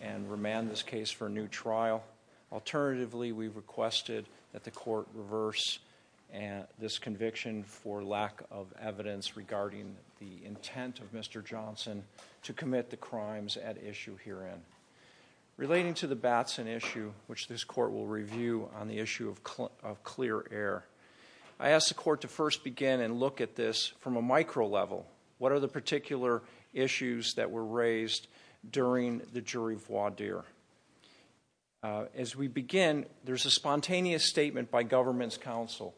and remand this case for a new trial. Alternatively, we requested that the court reverse this conviction for lack of evidence regarding the intent of Mr. Johnson to commit the crimes at issue herein. Relating to the Batson issue, which this court will review on the issue of clear air, I asked the court to first begin and look at this from a micro level. What are the jury voir dire? As we begin, there's a spontaneous statement by government's counsel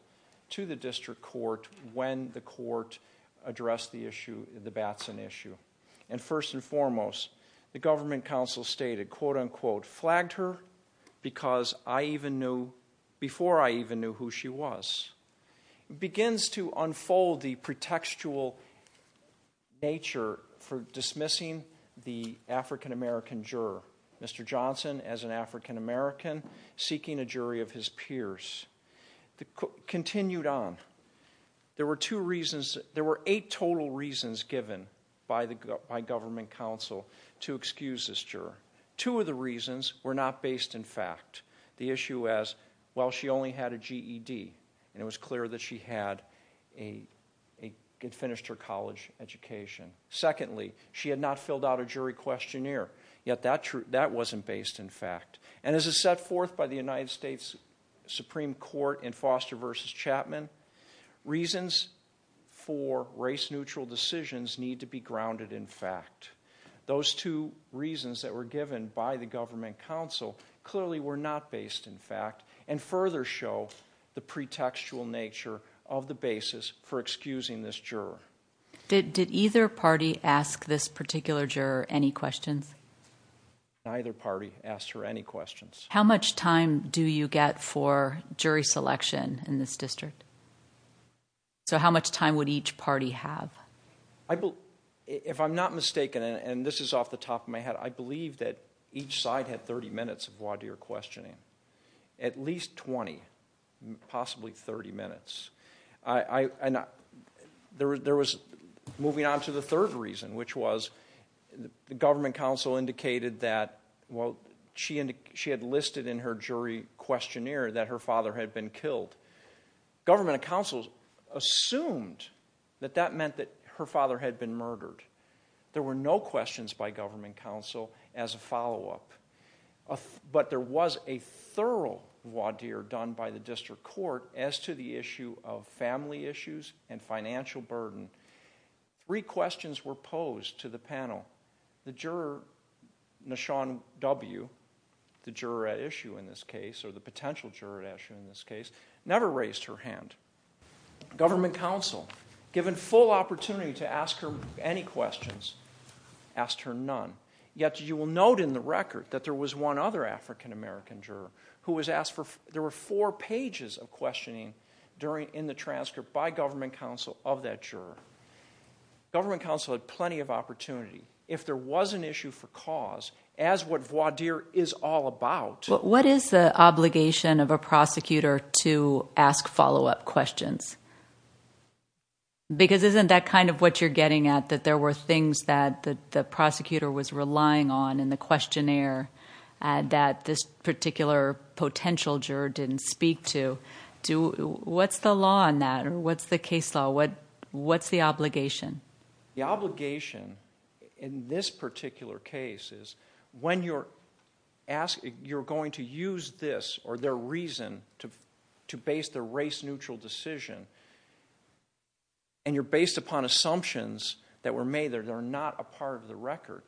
to the district court when the court addressed the issue, the Batson issue. And first and foremost, the government counsel stated, quote unquote, flagged her because I even knew, before I even knew who she was. It begins to unfold the pretextual nature for dismissing the African-American juror. Mr. Johnson, as an African-American, seeking a jury of his peers. The court continued on. There were two reasons, there were eight total reasons given by the government counsel to excuse this juror. Two of the reasons were not based in fact. The issue as, well, she only had a GED and it was clear that she had finished her college education. Secondly, she had not filled out a jury questionnaire, yet that wasn't based in fact. And as it's set forth by the United States Supreme Court in Foster versus Chapman, reasons for race-neutral decisions need to be grounded in fact. Those two reasons that were given by the government counsel clearly were not based in fact and further show the pretextual nature of the basis for excusing this juror. Did either party ask this particular juror any questions? Neither party asked her any questions. How much time do you get for jury selection in this district? So how much time would each party have? If I'm not mistaken, and this is off the top of my head, I believe that each side had 30 minutes of voir dire questioning. At least 20, possibly 30 minutes. There was, moving on to the third reason, which was the government counsel indicated that, well, she had listed in her jury questionnaire that her father had been killed. Government counsel assumed that that meant that her father had been murdered. There were no questions by government counsel as a but there was a thorough voir dire done by the district court as to the issue of family issues and financial burden. Three questions were posed to the panel. The juror, Nashawn W., the juror at issue in this case, or the potential juror at issue in this case, never raised her hand. Government counsel, given full opportunity to ask her any questions, asked her none. Yet you will note in the there was one other African-American juror who was asked for, there were four pages of questioning during, in the transcript by government counsel of that juror. Government counsel had plenty of opportunity. If there was an issue for cause, as what voir dire is all about... But what is the obligation of a prosecutor to ask follow-up questions? Because isn't that kind of what you're getting at, that there were things that the prosecutor was relying on in the questionnaire that this particular potential juror didn't speak to. What's the law on that? What's the case law? What's the obligation? The obligation in this particular case is when you're asking, you're going to use this or their reason to base the race-neutral decision and you're based upon assumptions that were made that are not a part of the record,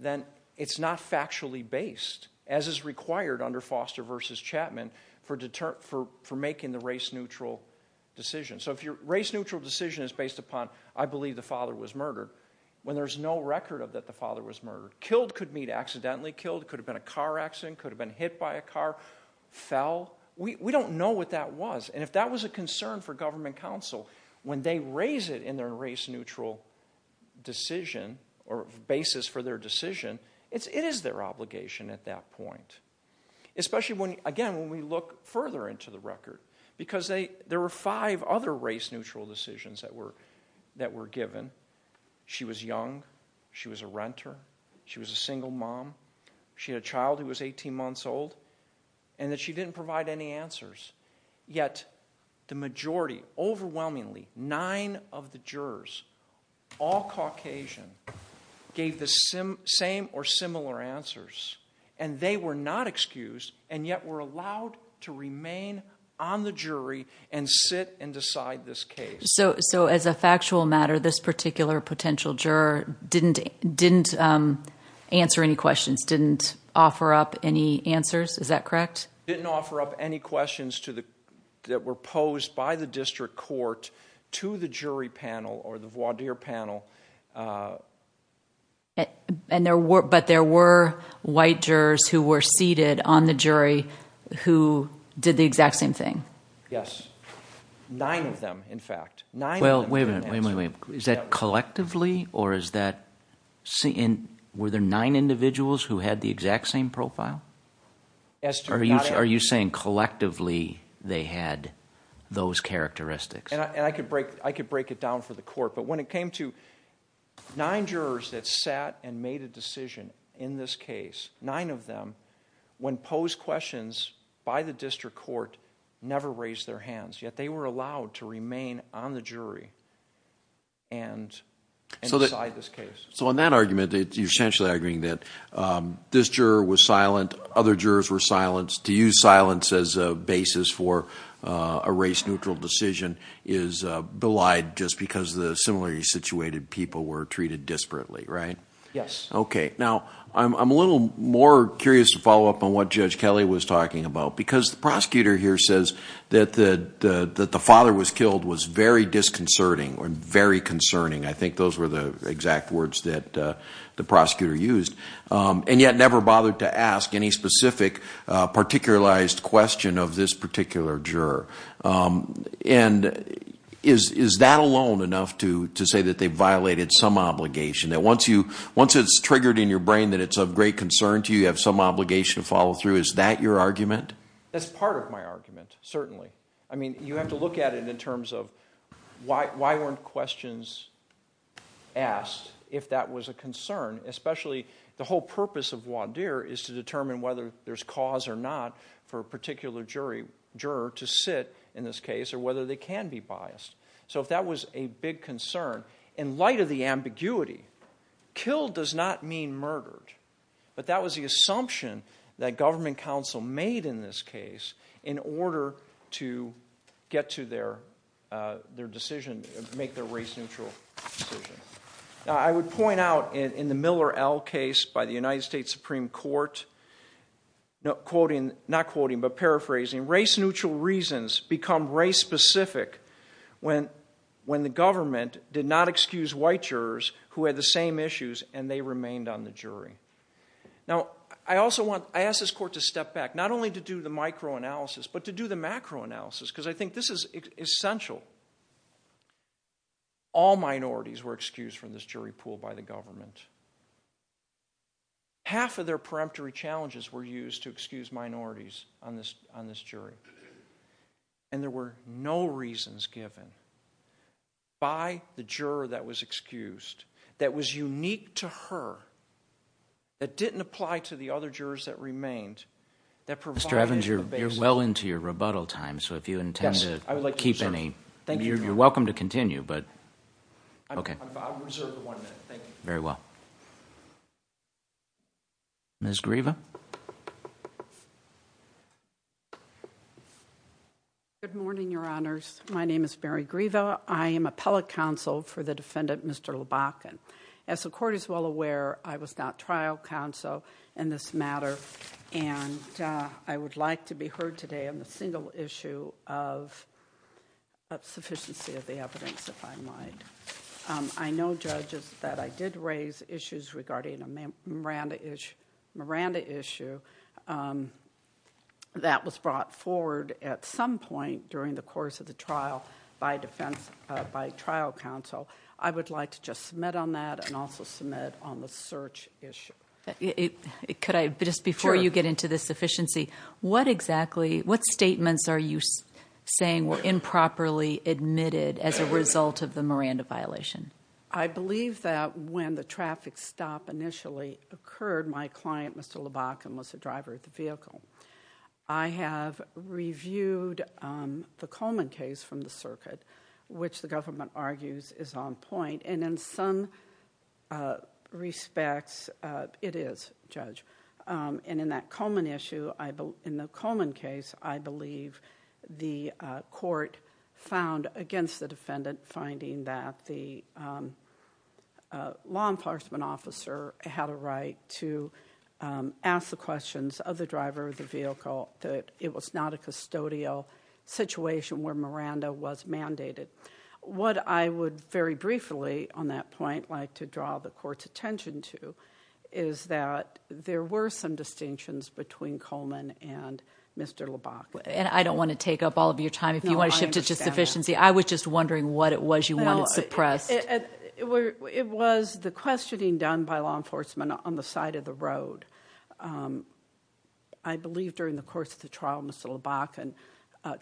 then it's not factually based, as is required under Foster versus Chapman for making the race-neutral decision. So if your race-neutral decision is based upon, I believe the father was murdered, when there's no record of that the father was murdered. Killed could mean accidentally killed, could have been a car accident, could have been hit by a car, fell. We don't know what that was and if that was a concern for government counsel, when they raise it in their race-neutral decision or basis for their decision, it is their obligation at that point. Especially when, again, when we look further into the record because there were five other race-neutral decisions that were given. She was young, she was a renter, she was a single mom, she had a child who was 18 The majority, overwhelmingly, nine of the jurors, all Caucasian, gave the same or similar answers and they were not excused and yet were allowed to remain on the jury and sit and decide this case. So as a factual matter, this particular potential juror didn't answer any questions, didn't offer up any answers, is that correct? Didn't offer up any questions that were posed by the district court to the jury panel or the voir dire panel. But there were white jurors who were seated on the jury who did the exact same thing? Yes. Nine of them, in fact. Well, wait a minute, wait a minute, wait a minute. Is that collectively or is that, were there nine individuals who had the exact same profile? Yes. Are you saying collectively they had those characteristics? And I could break it down for the court, but when it came to nine jurors that sat and made a decision in this case, nine of them, when posed questions by the district court, never raised their hands, yet they were allowed to remain on the jury and decide this case. So in that argument, you're essentially arguing that this juror was silent, other jurors were silenced. To use silence as a basis for a race-neutral decision is belied just because the similarly situated people were treated disparately, right? Yes. Okay. Now, I'm a little more curious to follow up on what Judge Kelly was talking about, because the prosecutor here says that the father was killed was very disconcerting or very concerning. I think those were the exact words that the prosecutor used, and yet never bothered to ask any specific, particularized question of this particular juror. And is that alone enough to say that they violated some obligation, that once it's triggered in your brain that it's of great concern to you, you have some obligation to follow through? Is that your argument? That's part of my argument, certainly. I mean, you have to look at it in terms of why weren't questions asked if that was a concern, especially the whole purpose of voir dire is to determine whether there's cause or not for a particular juror to sit in this case, or whether they can be biased. So if that was a big concern, in light of the ambiguity, killed does not mean murdered. But that was the assumption that government counsel made in this case in order to get to their decision, make their race-neutral decision. Now, I would point out in the Miller L. case by the United States Supreme Court, not quoting, but paraphrasing, race-neutral reasons become race-specific when the government did not excuse white jurors who had the same issues, and they remained on the jury. Now, I also want, I ask this court to step back, not only to do the micro-analysis, but to do the macro-analysis, because I think this is essential. All minorities were excused from this jury pool by the government. Half of their peremptory challenges were used to excuse minorities on this jury. And there were no reasons given by the juror that was excused, that was unique to her, that didn't apply to the other jurors that remained, that provided the basis. Mr. Evans, you're well into your rebuttal time, so if you intend to keep any, you're welcome to continue, but, okay. I've reserved one minute, thank you. Very well. Ms. Grieva? Good morning, Your Honors. My name is Mary Grieva. I am appellate counsel for the defendant, Mr. Lubachin. As the court is well aware, I was not trial counsel in this matter, and I would like to be heard today on the single issue of sufficiency of the evidence, if I might. I know, judges, that I did raise issues regarding a Miranda issue that was brought forward at some point during the course of the trial by trial counsel. I would like to just submit on that and also submit on the search issue. Could I, just before you get into the sufficiency, what exactly, what statements are you saying were improperly admitted as a result of the Miranda violation? I believe that when the traffic stop initially occurred, my client, Mr. Lubachin, was the driver of the vehicle. I have reviewed the Coleman case from the circuit, which the government argues is on point, and in some respects, it is, Judge. In that Coleman issue, in the Coleman case, I believe the court found against the defendant, finding that the law enforcement officer had a right to ask the questions of the driver of the vehicle, that it was not a custodial situation where Miranda was mandated. What I would very briefly on that point like to draw the court's attention to is that there were some distinctions between Coleman and Mr. Lubachin. And I don't want to take up all of your time. If you want to shift to just sufficiency, I was just wondering what it was you wanted suppressed. It was the questioning done by law enforcement on the side of the road. I believe during the course of the trial, Mr. Lubachin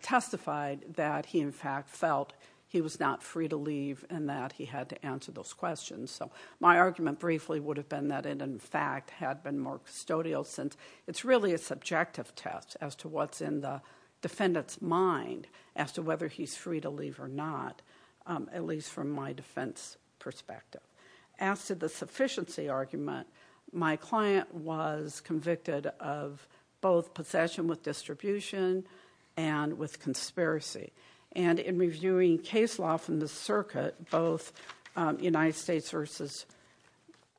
testified that he, in fact, felt he was not free to leave and that he had to answer those questions. So my argument briefly would have been that it, in fact, had been more custodial since it's really a subjective test as to what's in the defendant's mind as to whether he's free to leave or not, at least from my defense perspective. As to the sufficiency argument, my client was convicted of both possession with distribution and with conspiracy. And in reviewing case law from the circuit, both United States versus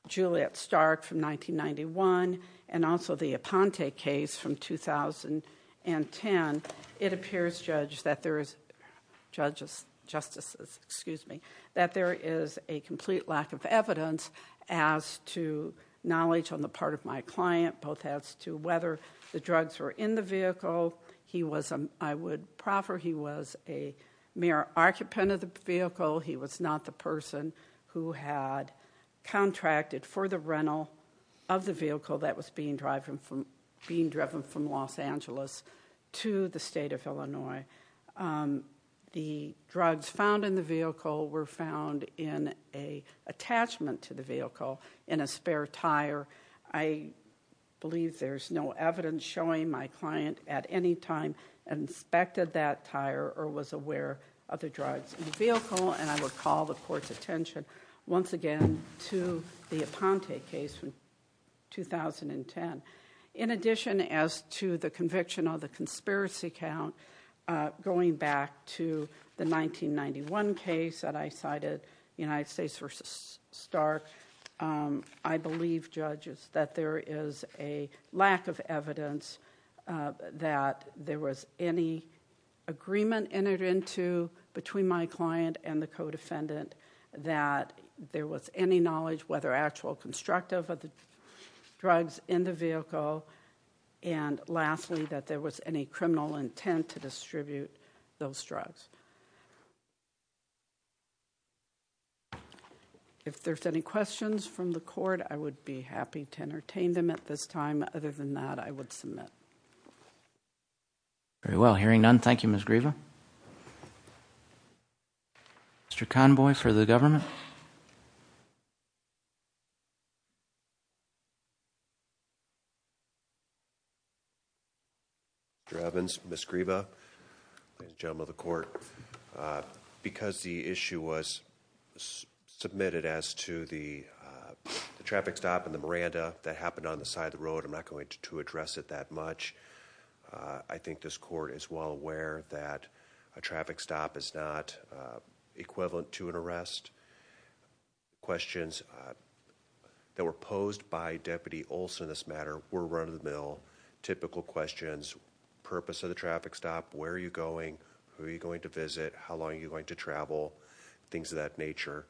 Juliet Stark from 1991 and also the Aponte case from 2010, it appears, judges, justices, excuse me, that there is a complete lack of evidence as to knowledge on the part of my client, both as to whether the drugs were in the vehicle. He was, I would proffer, he was a mere occupant of the vehicle. He was not the person who had contracted for the rental of the vehicle that was being driven from Los Angeles to the state of Illinois. The drugs found in the vehicle were found in an attachment to the vehicle in a spare tire. I believe there's no evidence showing my client at any time inspected that tire or was aware of the drugs in the vehicle. And I would call the court's attention once again to the Aponte case from 2010. In addition as to the conviction of the conspiracy count, going back to the 1991 case that I cited, United States versus Stark, I believe, judges, that there is a lack of evidence that there was any agreement entered into between my client and the co-defendant that there was any knowledge whether actual constructive of the drugs in the vehicle and lastly that there was any criminal intent to distribute those drugs. If there's any questions from the court, I would be happy to entertain them at this time. Other than that, I would submit. Very well. Hearing none, thank you, Ms. Grieva. Thank you. Mr. Convoy for the government. Mr. Evans, Ms. Grieva, ladies and gentlemen of the court, because the issue was submitted as to the traffic stop in the Miranda that happened on the side of the road, I'm not going to address it that much. I think this court is well aware that a traffic stop is not equivalent to an arrest. Questions that were posed by Deputy Olson in this matter were run-of-the-mill, typical questions, purpose of the traffic stop, where are you going, who are you going to visit, how long are you going to travel, things of that nature.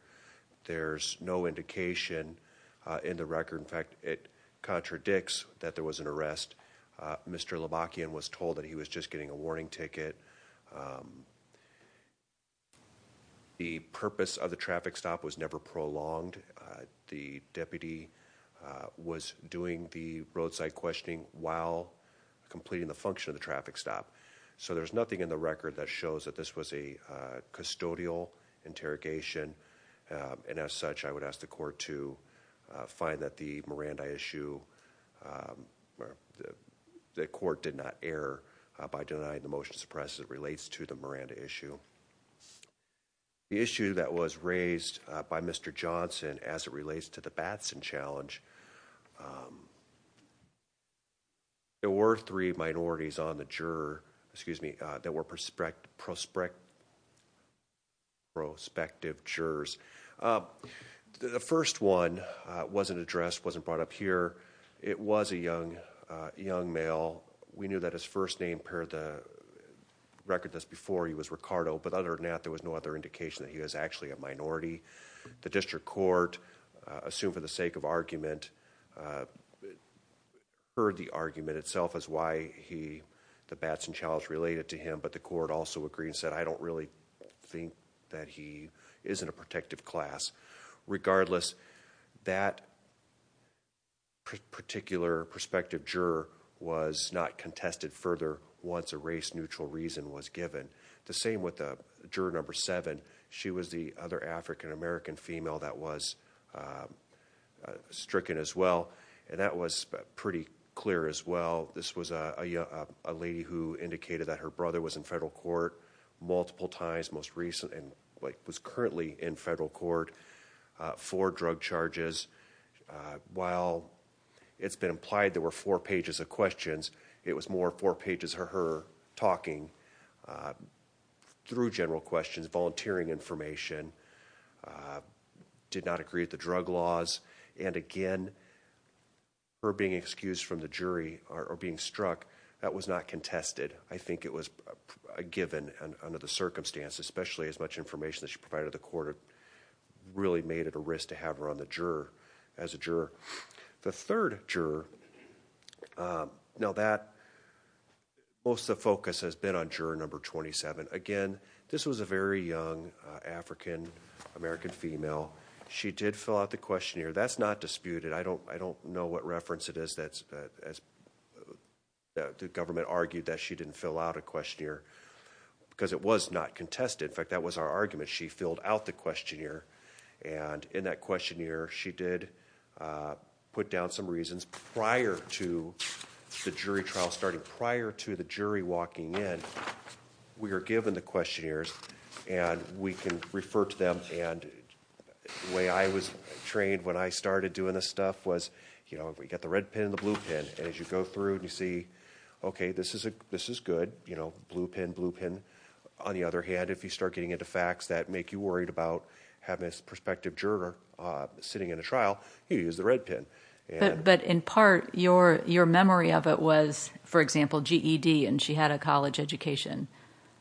There's no indication in the record, in fact, it contradicts that there was an arrest. Mr. Labakian was told that he was just getting a warning ticket. The purpose of the traffic stop was never prolonged. The deputy was doing the roadside questioning while completing the function of the traffic stop. So there's nothing in the record that shows that this was a custodial interrogation. And as such, I would ask the court to find that the Miranda issue, the court did not err by denying the motion to suppress as it relates to the Miranda issue. The issue that was raised by Mr. Johnson as it relates to the Batson challenge, there were three minorities on the juror, excuse me, that were prospective jurors. The first one wasn't addressed, wasn't brought up here. It was a young male. We knew that his first name paired the record that's before he was Ricardo, but other than that, there was no other indication that he was actually a minority. The district court, assumed for the sake of argument, heard the argument itself as why the Batson challenge related to him. But the court also agreed and said, I don't really think that he is in a protective class. Regardless, that particular prospective juror was not contested further once a race-neutral reason was given. The same with juror number seven. She was the other African-American female that was stricken as well. And that was pretty clear as well. This was a lady who indicated that her brother was in federal court multiple times most recently, and was currently in federal court for drug charges. While it's been implied there were four pages of questions, it was more four pages of her talking through general questions, volunteering information, did not agree with the drug laws. And again, her being excused from the jury or being struck, that was not contested. I think it was a given under the circumstance, especially as much information that she provided the court really made it a risk to have her on the juror as a juror. The third juror, now that most of the focus has been on juror number 27. Again, this was a very young African-American female. She did fill out the questionnaire. That's not disputed. I don't know what reference it is that the government argued that she didn't fill out a questionnaire because it was not contested. In fact, that was our argument. She filled out the questionnaire. And in that questionnaire, she did put down some reasons prior to the jury trial starting. Prior to the jury walking in, we were given the questionnaires, and we can refer to them. And the way I was trained when I started doing this stuff was we got the red pen and the blue pen. And as you go through and you see, okay, this is good, blue pen, blue pen. On the other hand, if you start getting into facts that make you worried about having a prospective juror sitting in a trial, you use the red pen. But in part, your memory of it was, for example, GED, and she had a college education.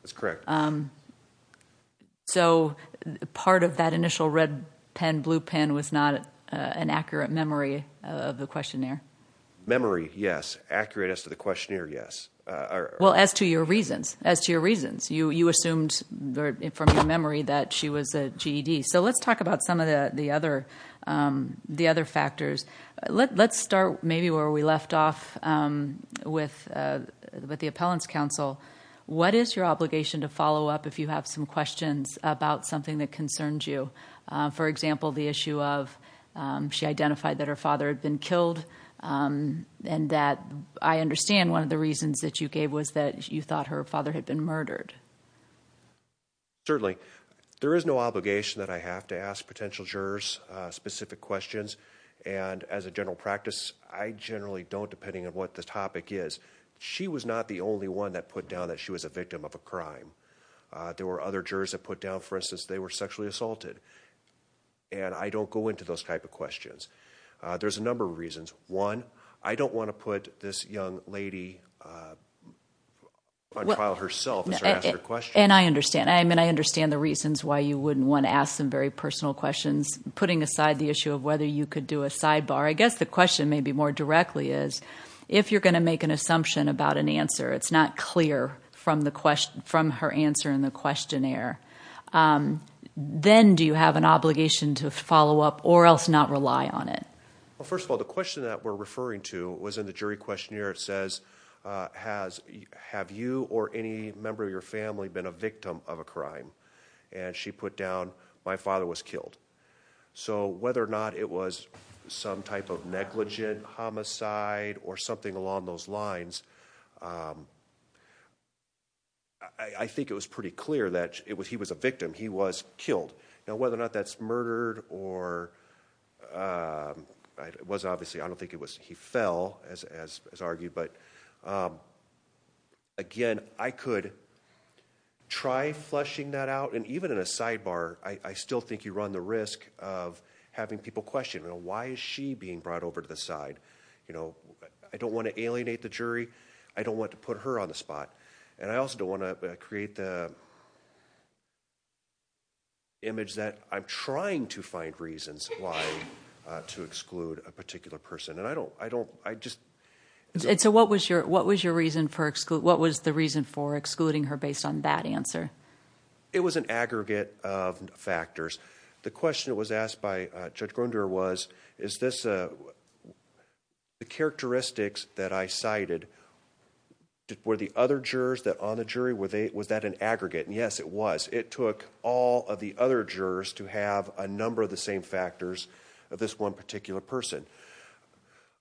That's correct. So part of that initial red pen, blue pen was not an accurate memory of the questionnaire? Memory, yes. Accurate as to the questionnaire, yes. Well, as to your reasons, as to your reasons. You assumed from your memory that she was a GED. So let's talk about some of the other factors. Let's start maybe where we left off with the appellant's counsel. What is your obligation to follow up if you have some questions about something that concerns you? For example, the issue of she identified that her father had been killed and that I understand one of the reasons that you gave was that you thought her father had been murdered. Certainly. There is no obligation that I have to ask potential jurors specific questions. And as a general practice, I generally don't, depending on what the topic is. She was not the only one that put down that she was a victim of a crime. There were other jurors that put down, for instance, they were sexually assaulted. And I don't go into those type of questions. There's a number of reasons. One, I don't want to put this young lady on trial herself as I ask her questions. And I understand. I mean, I understand the reasons why you wouldn't want to ask some very personal questions. Putting aside the issue of whether you could do a sidebar, I guess the question maybe more directly is, if you're going to make an assumption about an answer, it's not clear from her answer in the questionnaire, then do you have an obligation to follow up or else not rely on it? Well, first of all, the question that we're referring to was in the jury questionnaire. It says, have you or any member of your family been a victim of a crime? And she put down, my father was killed. So whether or not it was some type of negligent homicide or something along those lines, I think it was pretty clear that he was a victim. He was killed. Now, whether or not that's murdered or it was obviously, I don't think it was he fell, as argued. But, again, I could try fleshing that out. And even in a sidebar, I still think you run the risk of having people question, you know, why is she being brought over to the side? You know, I don't want to alienate the jury. I don't want to put her on the spot. And I also don't want to create the image that I'm trying to find reasons why to exclude a particular person. And I don't, I just. And so what was your reason for, what was the reason for excluding her based on that answer? It was an aggregate of factors. The question that was asked by Judge Grunder was, is this, the characteristics that I cited, were the other jurors on the jury, was that an aggregate? And, yes, it was. It took all of the other jurors to have a number of the same factors of this one particular person.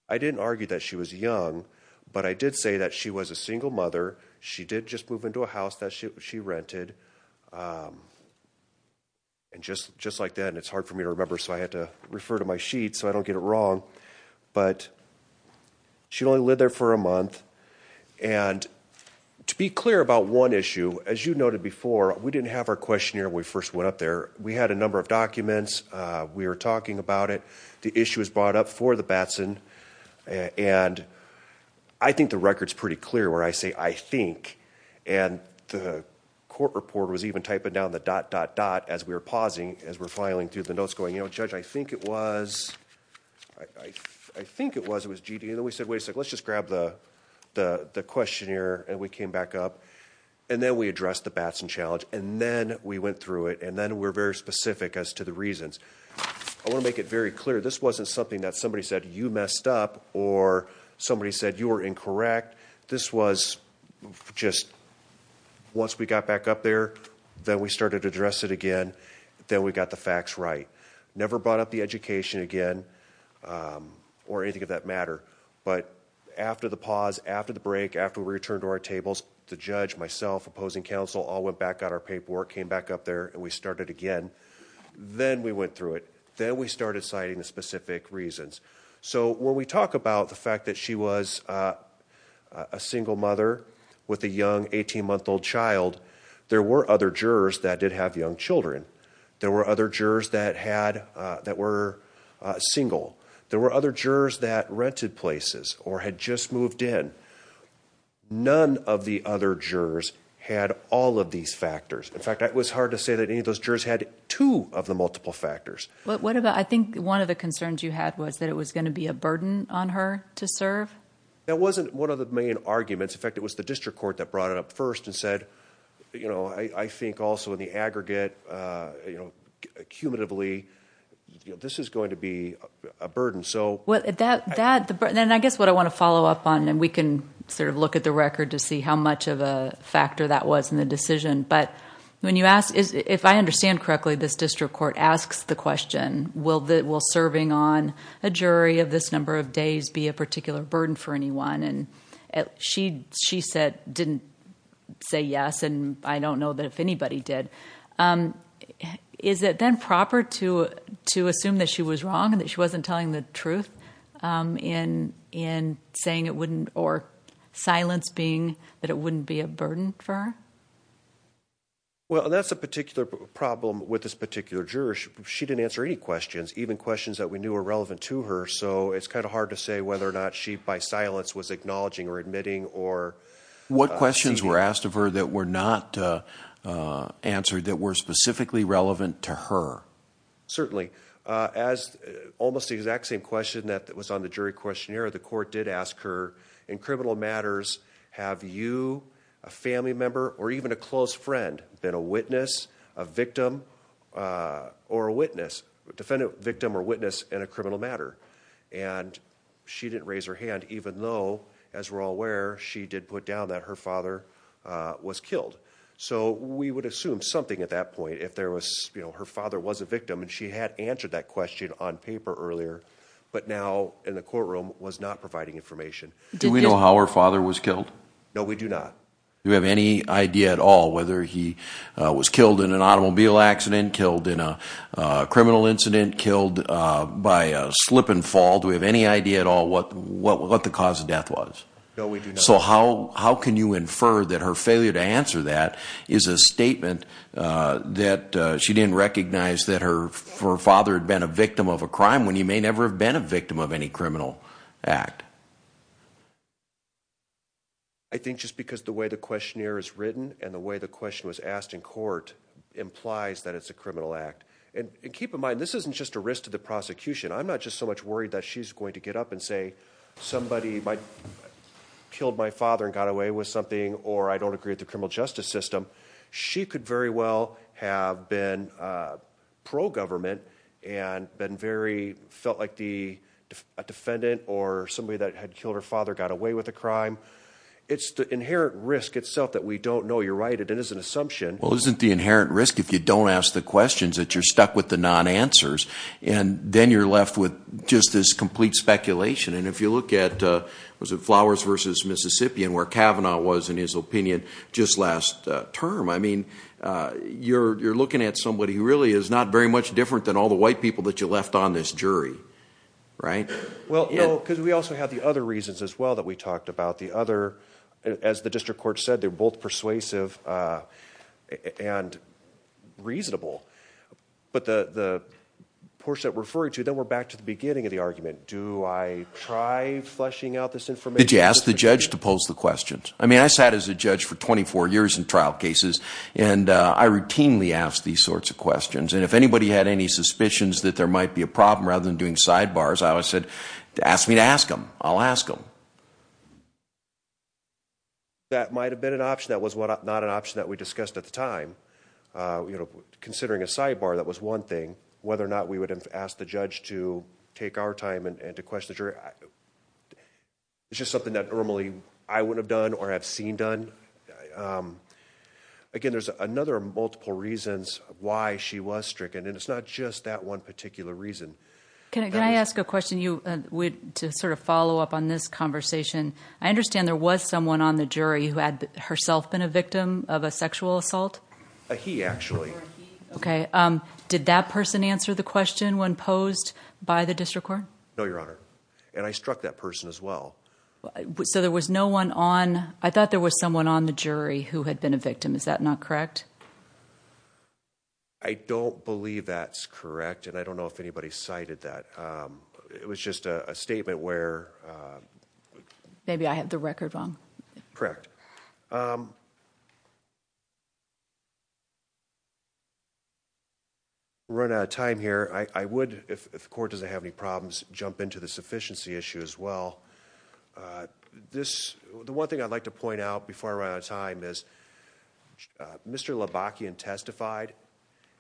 I didn't argue that she was young, but I did say that she was a single mother. She did just move into a house that she rented. And just like that, and it's hard for me to remember, so I had to refer to my sheet so I don't get it wrong, but she only lived there for a month. And to be clear about one issue, as you noted before, we didn't have our questionnaire when we first went up there. We had a number of documents. We were talking about it. The issue was brought up for the Batson. And I think the record's pretty clear where I say, I think, and the court report was even typing down the dot, dot, dot as we were pausing, as we were filing through the notes going, you know, Judge, I think it was, I think it was, it was G.D. And then we said, wait a second, let's just grab the questionnaire, and we came back up. And then we addressed the Batson challenge, and then we went through it, and then we were very specific as to the reasons. I want to make it very clear. This wasn't something that somebody said you messed up or somebody said you were incorrect. This was just once we got back up there, then we started to address it again, then we got the facts right. Never brought up the education again or anything of that matter. But after the pause, after the break, after we returned to our tables, the judge, myself, opposing counsel, all went back, got our paperwork, came back up there, and we started again. Then we went through it. Then we started citing the specific reasons. So when we talk about the fact that she was a single mother with a young 18-month-old child, there were other jurors that did have young children. There were other jurors that had, that were single. There were other jurors that rented places or had just moved in. None of the other jurors had all of these factors. In fact, it was hard to say that any of those jurors had two of the multiple factors. I think one of the concerns you had was that it was going to be a burden on her to serve. That wasn't one of the main arguments. In fact, it was the district court that brought it up first and said, I think also in the aggregate, cumulatively, this is going to be a burden. I guess what I want to follow up on, and we can sort of look at the record to see how much of a factor that was in the decision, but if I understand correctly, this district court asks the question, will serving on a jury of this number of days be a particular burden for anyone? She didn't say yes, and I don't know that if anybody did. Is it then proper to assume that she was wrong and that she wasn't telling the truth in silence being that it wouldn't be a burden for her? Well, that's a particular problem with this particular juror. She didn't answer any questions, even questions that we knew were relevant to her, so it's kind of hard to say whether or not she, by silence, was acknowledging or admitting. What questions were asked of her that were not answered that were specifically relevant to her? Certainly. As almost the exact same question that was on the jury questionnaire, the court did ask her, in criminal matters, have you, a family member, or even a close friend, been a witness, a victim, or a witness, defendant, victim, or witness in a criminal matter? And she didn't raise her hand, even though, as we're all aware, she did put down that her father was killed. So we would assume something at that point if her father was a victim, and she had answered that question on paper earlier, but now in the courtroom was not providing information. Do we know how her father was killed? No, we do not. Do we have any idea at all whether he was killed in an automobile accident, killed in a criminal incident, killed by a slip and fall? Do we have any idea at all what the cause of death was? No, we do not. So how can you infer that her failure to answer that is a statement that she didn't recognize that her father had been a victim of a crime when he may never have been a victim of any criminal act? I think just because the way the questionnaire is written and the way the question was asked in court implies that it's a criminal act. And keep in mind, this isn't just a risk to the prosecution. I'm not just so much worried that she's going to get up and say, somebody killed my father and got away with something, or I don't agree with the criminal justice system. She could very well have been pro-government and felt like a defendant or somebody that had killed her father got away with a crime. It's the inherent risk itself that we don't know. You're right, it is an assumption. Well, isn't the inherent risk if you don't ask the questions that you're stuck with the non-answers, and then you're left with just this complete speculation? And if you look at, was it Flowers v. Mississippi and where Kavanaugh was in his opinion just last term, I mean, you're looking at somebody who really is not very much different than all the white people that you left on this jury, right? Well, no, because we also have the other reasons as well that we talked about. The other, as the district court said, they're both persuasive and reasonable. But the portion that we're referring to, then we're back to the beginning of the argument. Do I try fleshing out this information? Did you ask the judge to pose the questions? I mean, I sat as a judge for 24 years in trial cases, and I routinely asked these sorts of questions. And if anybody had any suspicions that there might be a problem rather than doing sidebars, I always said, ask me to ask them. I'll ask them. That might have been an option. That was not an option that we discussed at the time. Considering a sidebar, that was one thing. Whether or not we would have asked the judge to take our time and to question the jury, it's just something that normally I wouldn't have done or have seen done. Again, there's another multiple reasons why she was stricken, and it's not just that one particular reason. Can I ask a question to sort of follow up on this conversation? I understand there was someone on the jury who had herself been a victim of a sexual assault? He, actually. Okay. Did that person answer the question when posed by the district court? No, Your Honor. And I struck that person as well. So there was no one on? I thought there was someone on the jury who had been a victim. Is that not correct? I don't believe that's correct, and I don't know if anybody cited that. It was just a statement where... Maybe I had the record wrong. Correct. We're running out of time here. I would, if the court doesn't have any problems, jump into the sufficiency issue as well. The one thing I'd like to point out before I run out of time is Mr. Labakian testified,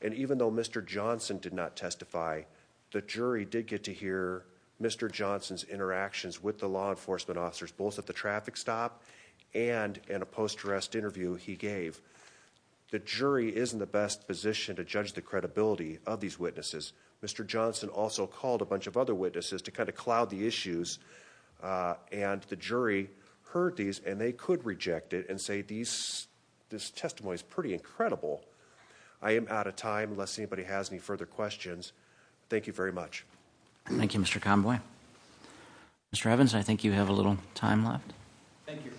and even though Mr. Johnson did not testify, the jury did get to hear Mr. Johnson's interactions with the law enforcement officers, both at the traffic stop and in a post-arrest interview he gave. The jury is in the best position to judge the credibility of these witnesses. Mr. Johnson also called a bunch of other witnesses to kind of cloud the issues, and the jury heard these, and they could reject it and say this testimony is pretty incredible. I am out of time unless anybody has any further questions. Thank you very much. Thank you, Mr. Conboy. Mr. Evans, I think you have a little time left. Thank you.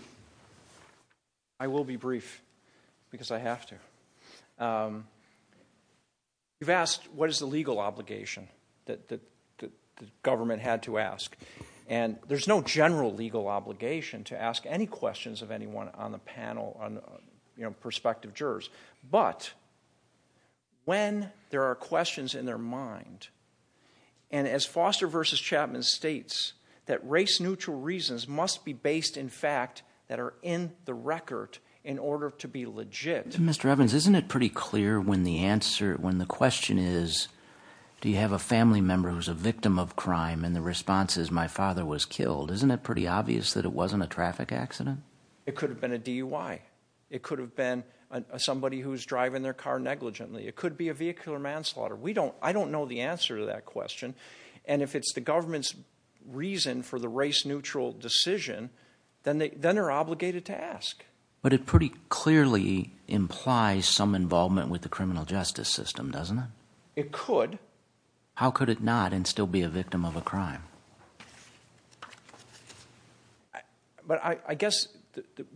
I will be brief because I have to. You've asked what is the legal obligation that the government had to ask, and there's no general legal obligation to ask any questions of anyone on the panel, you know, prospective jurors. But when there are questions in their mind, and as Foster v. Chapman states, that race-neutral reasons must be based in fact that are in the record in order to be legit. Mr. Evans, isn't it pretty clear when the question is, do you have a family member who is a victim of crime and the response is, my father was killed, isn't it pretty obvious that it wasn't a traffic accident? It could have been a DUI. It could have been somebody who is driving their car negligently. It could be a vehicular manslaughter. I don't know the answer to that question, and if it's the government's reason for the race-neutral decision, then they're obligated to ask. But it pretty clearly implies some involvement with the criminal justice system, doesn't it? It could. How could it not and still be a victim of a crime? But I guess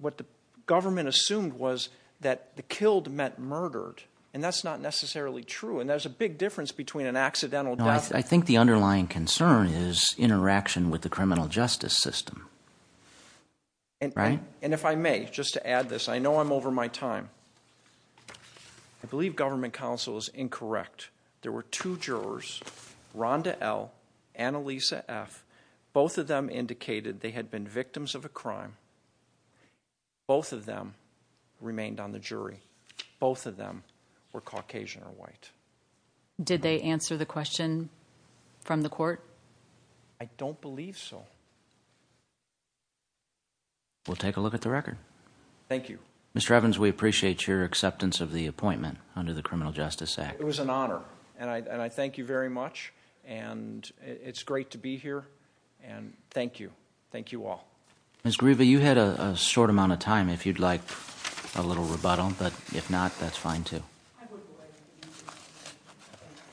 what the government assumed was that the killed meant murdered, and that's not necessarily true, and there's a big difference between an accidental death… No, I think the underlying concern is interaction with the criminal justice system, right? And if I may, just to add this, I know I'm over my time. I believe government counsel is incorrect. There were two jurors, Rhonda L. and Elisa F. Both of them indicated they had been victims of a crime. Both of them remained on the jury. Both of them were Caucasian or white. Did they answer the question from the court? I don't believe so. We'll take a look at the record. Thank you. Mr. Evans, we appreciate your acceptance of the appointment under the Criminal Justice Act. It was an honor, and I thank you very much. And it's great to be here, and thank you. Thank you all. Ms. Grieva, you had a short amount of time, if you'd like a little rebuttal. But if not, that's fine, too.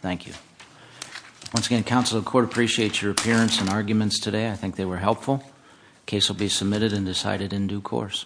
Thank you. Once again, counsel of the court appreciates your appearance and arguments today. I think they were helpful. The case will be submitted and decided in due course.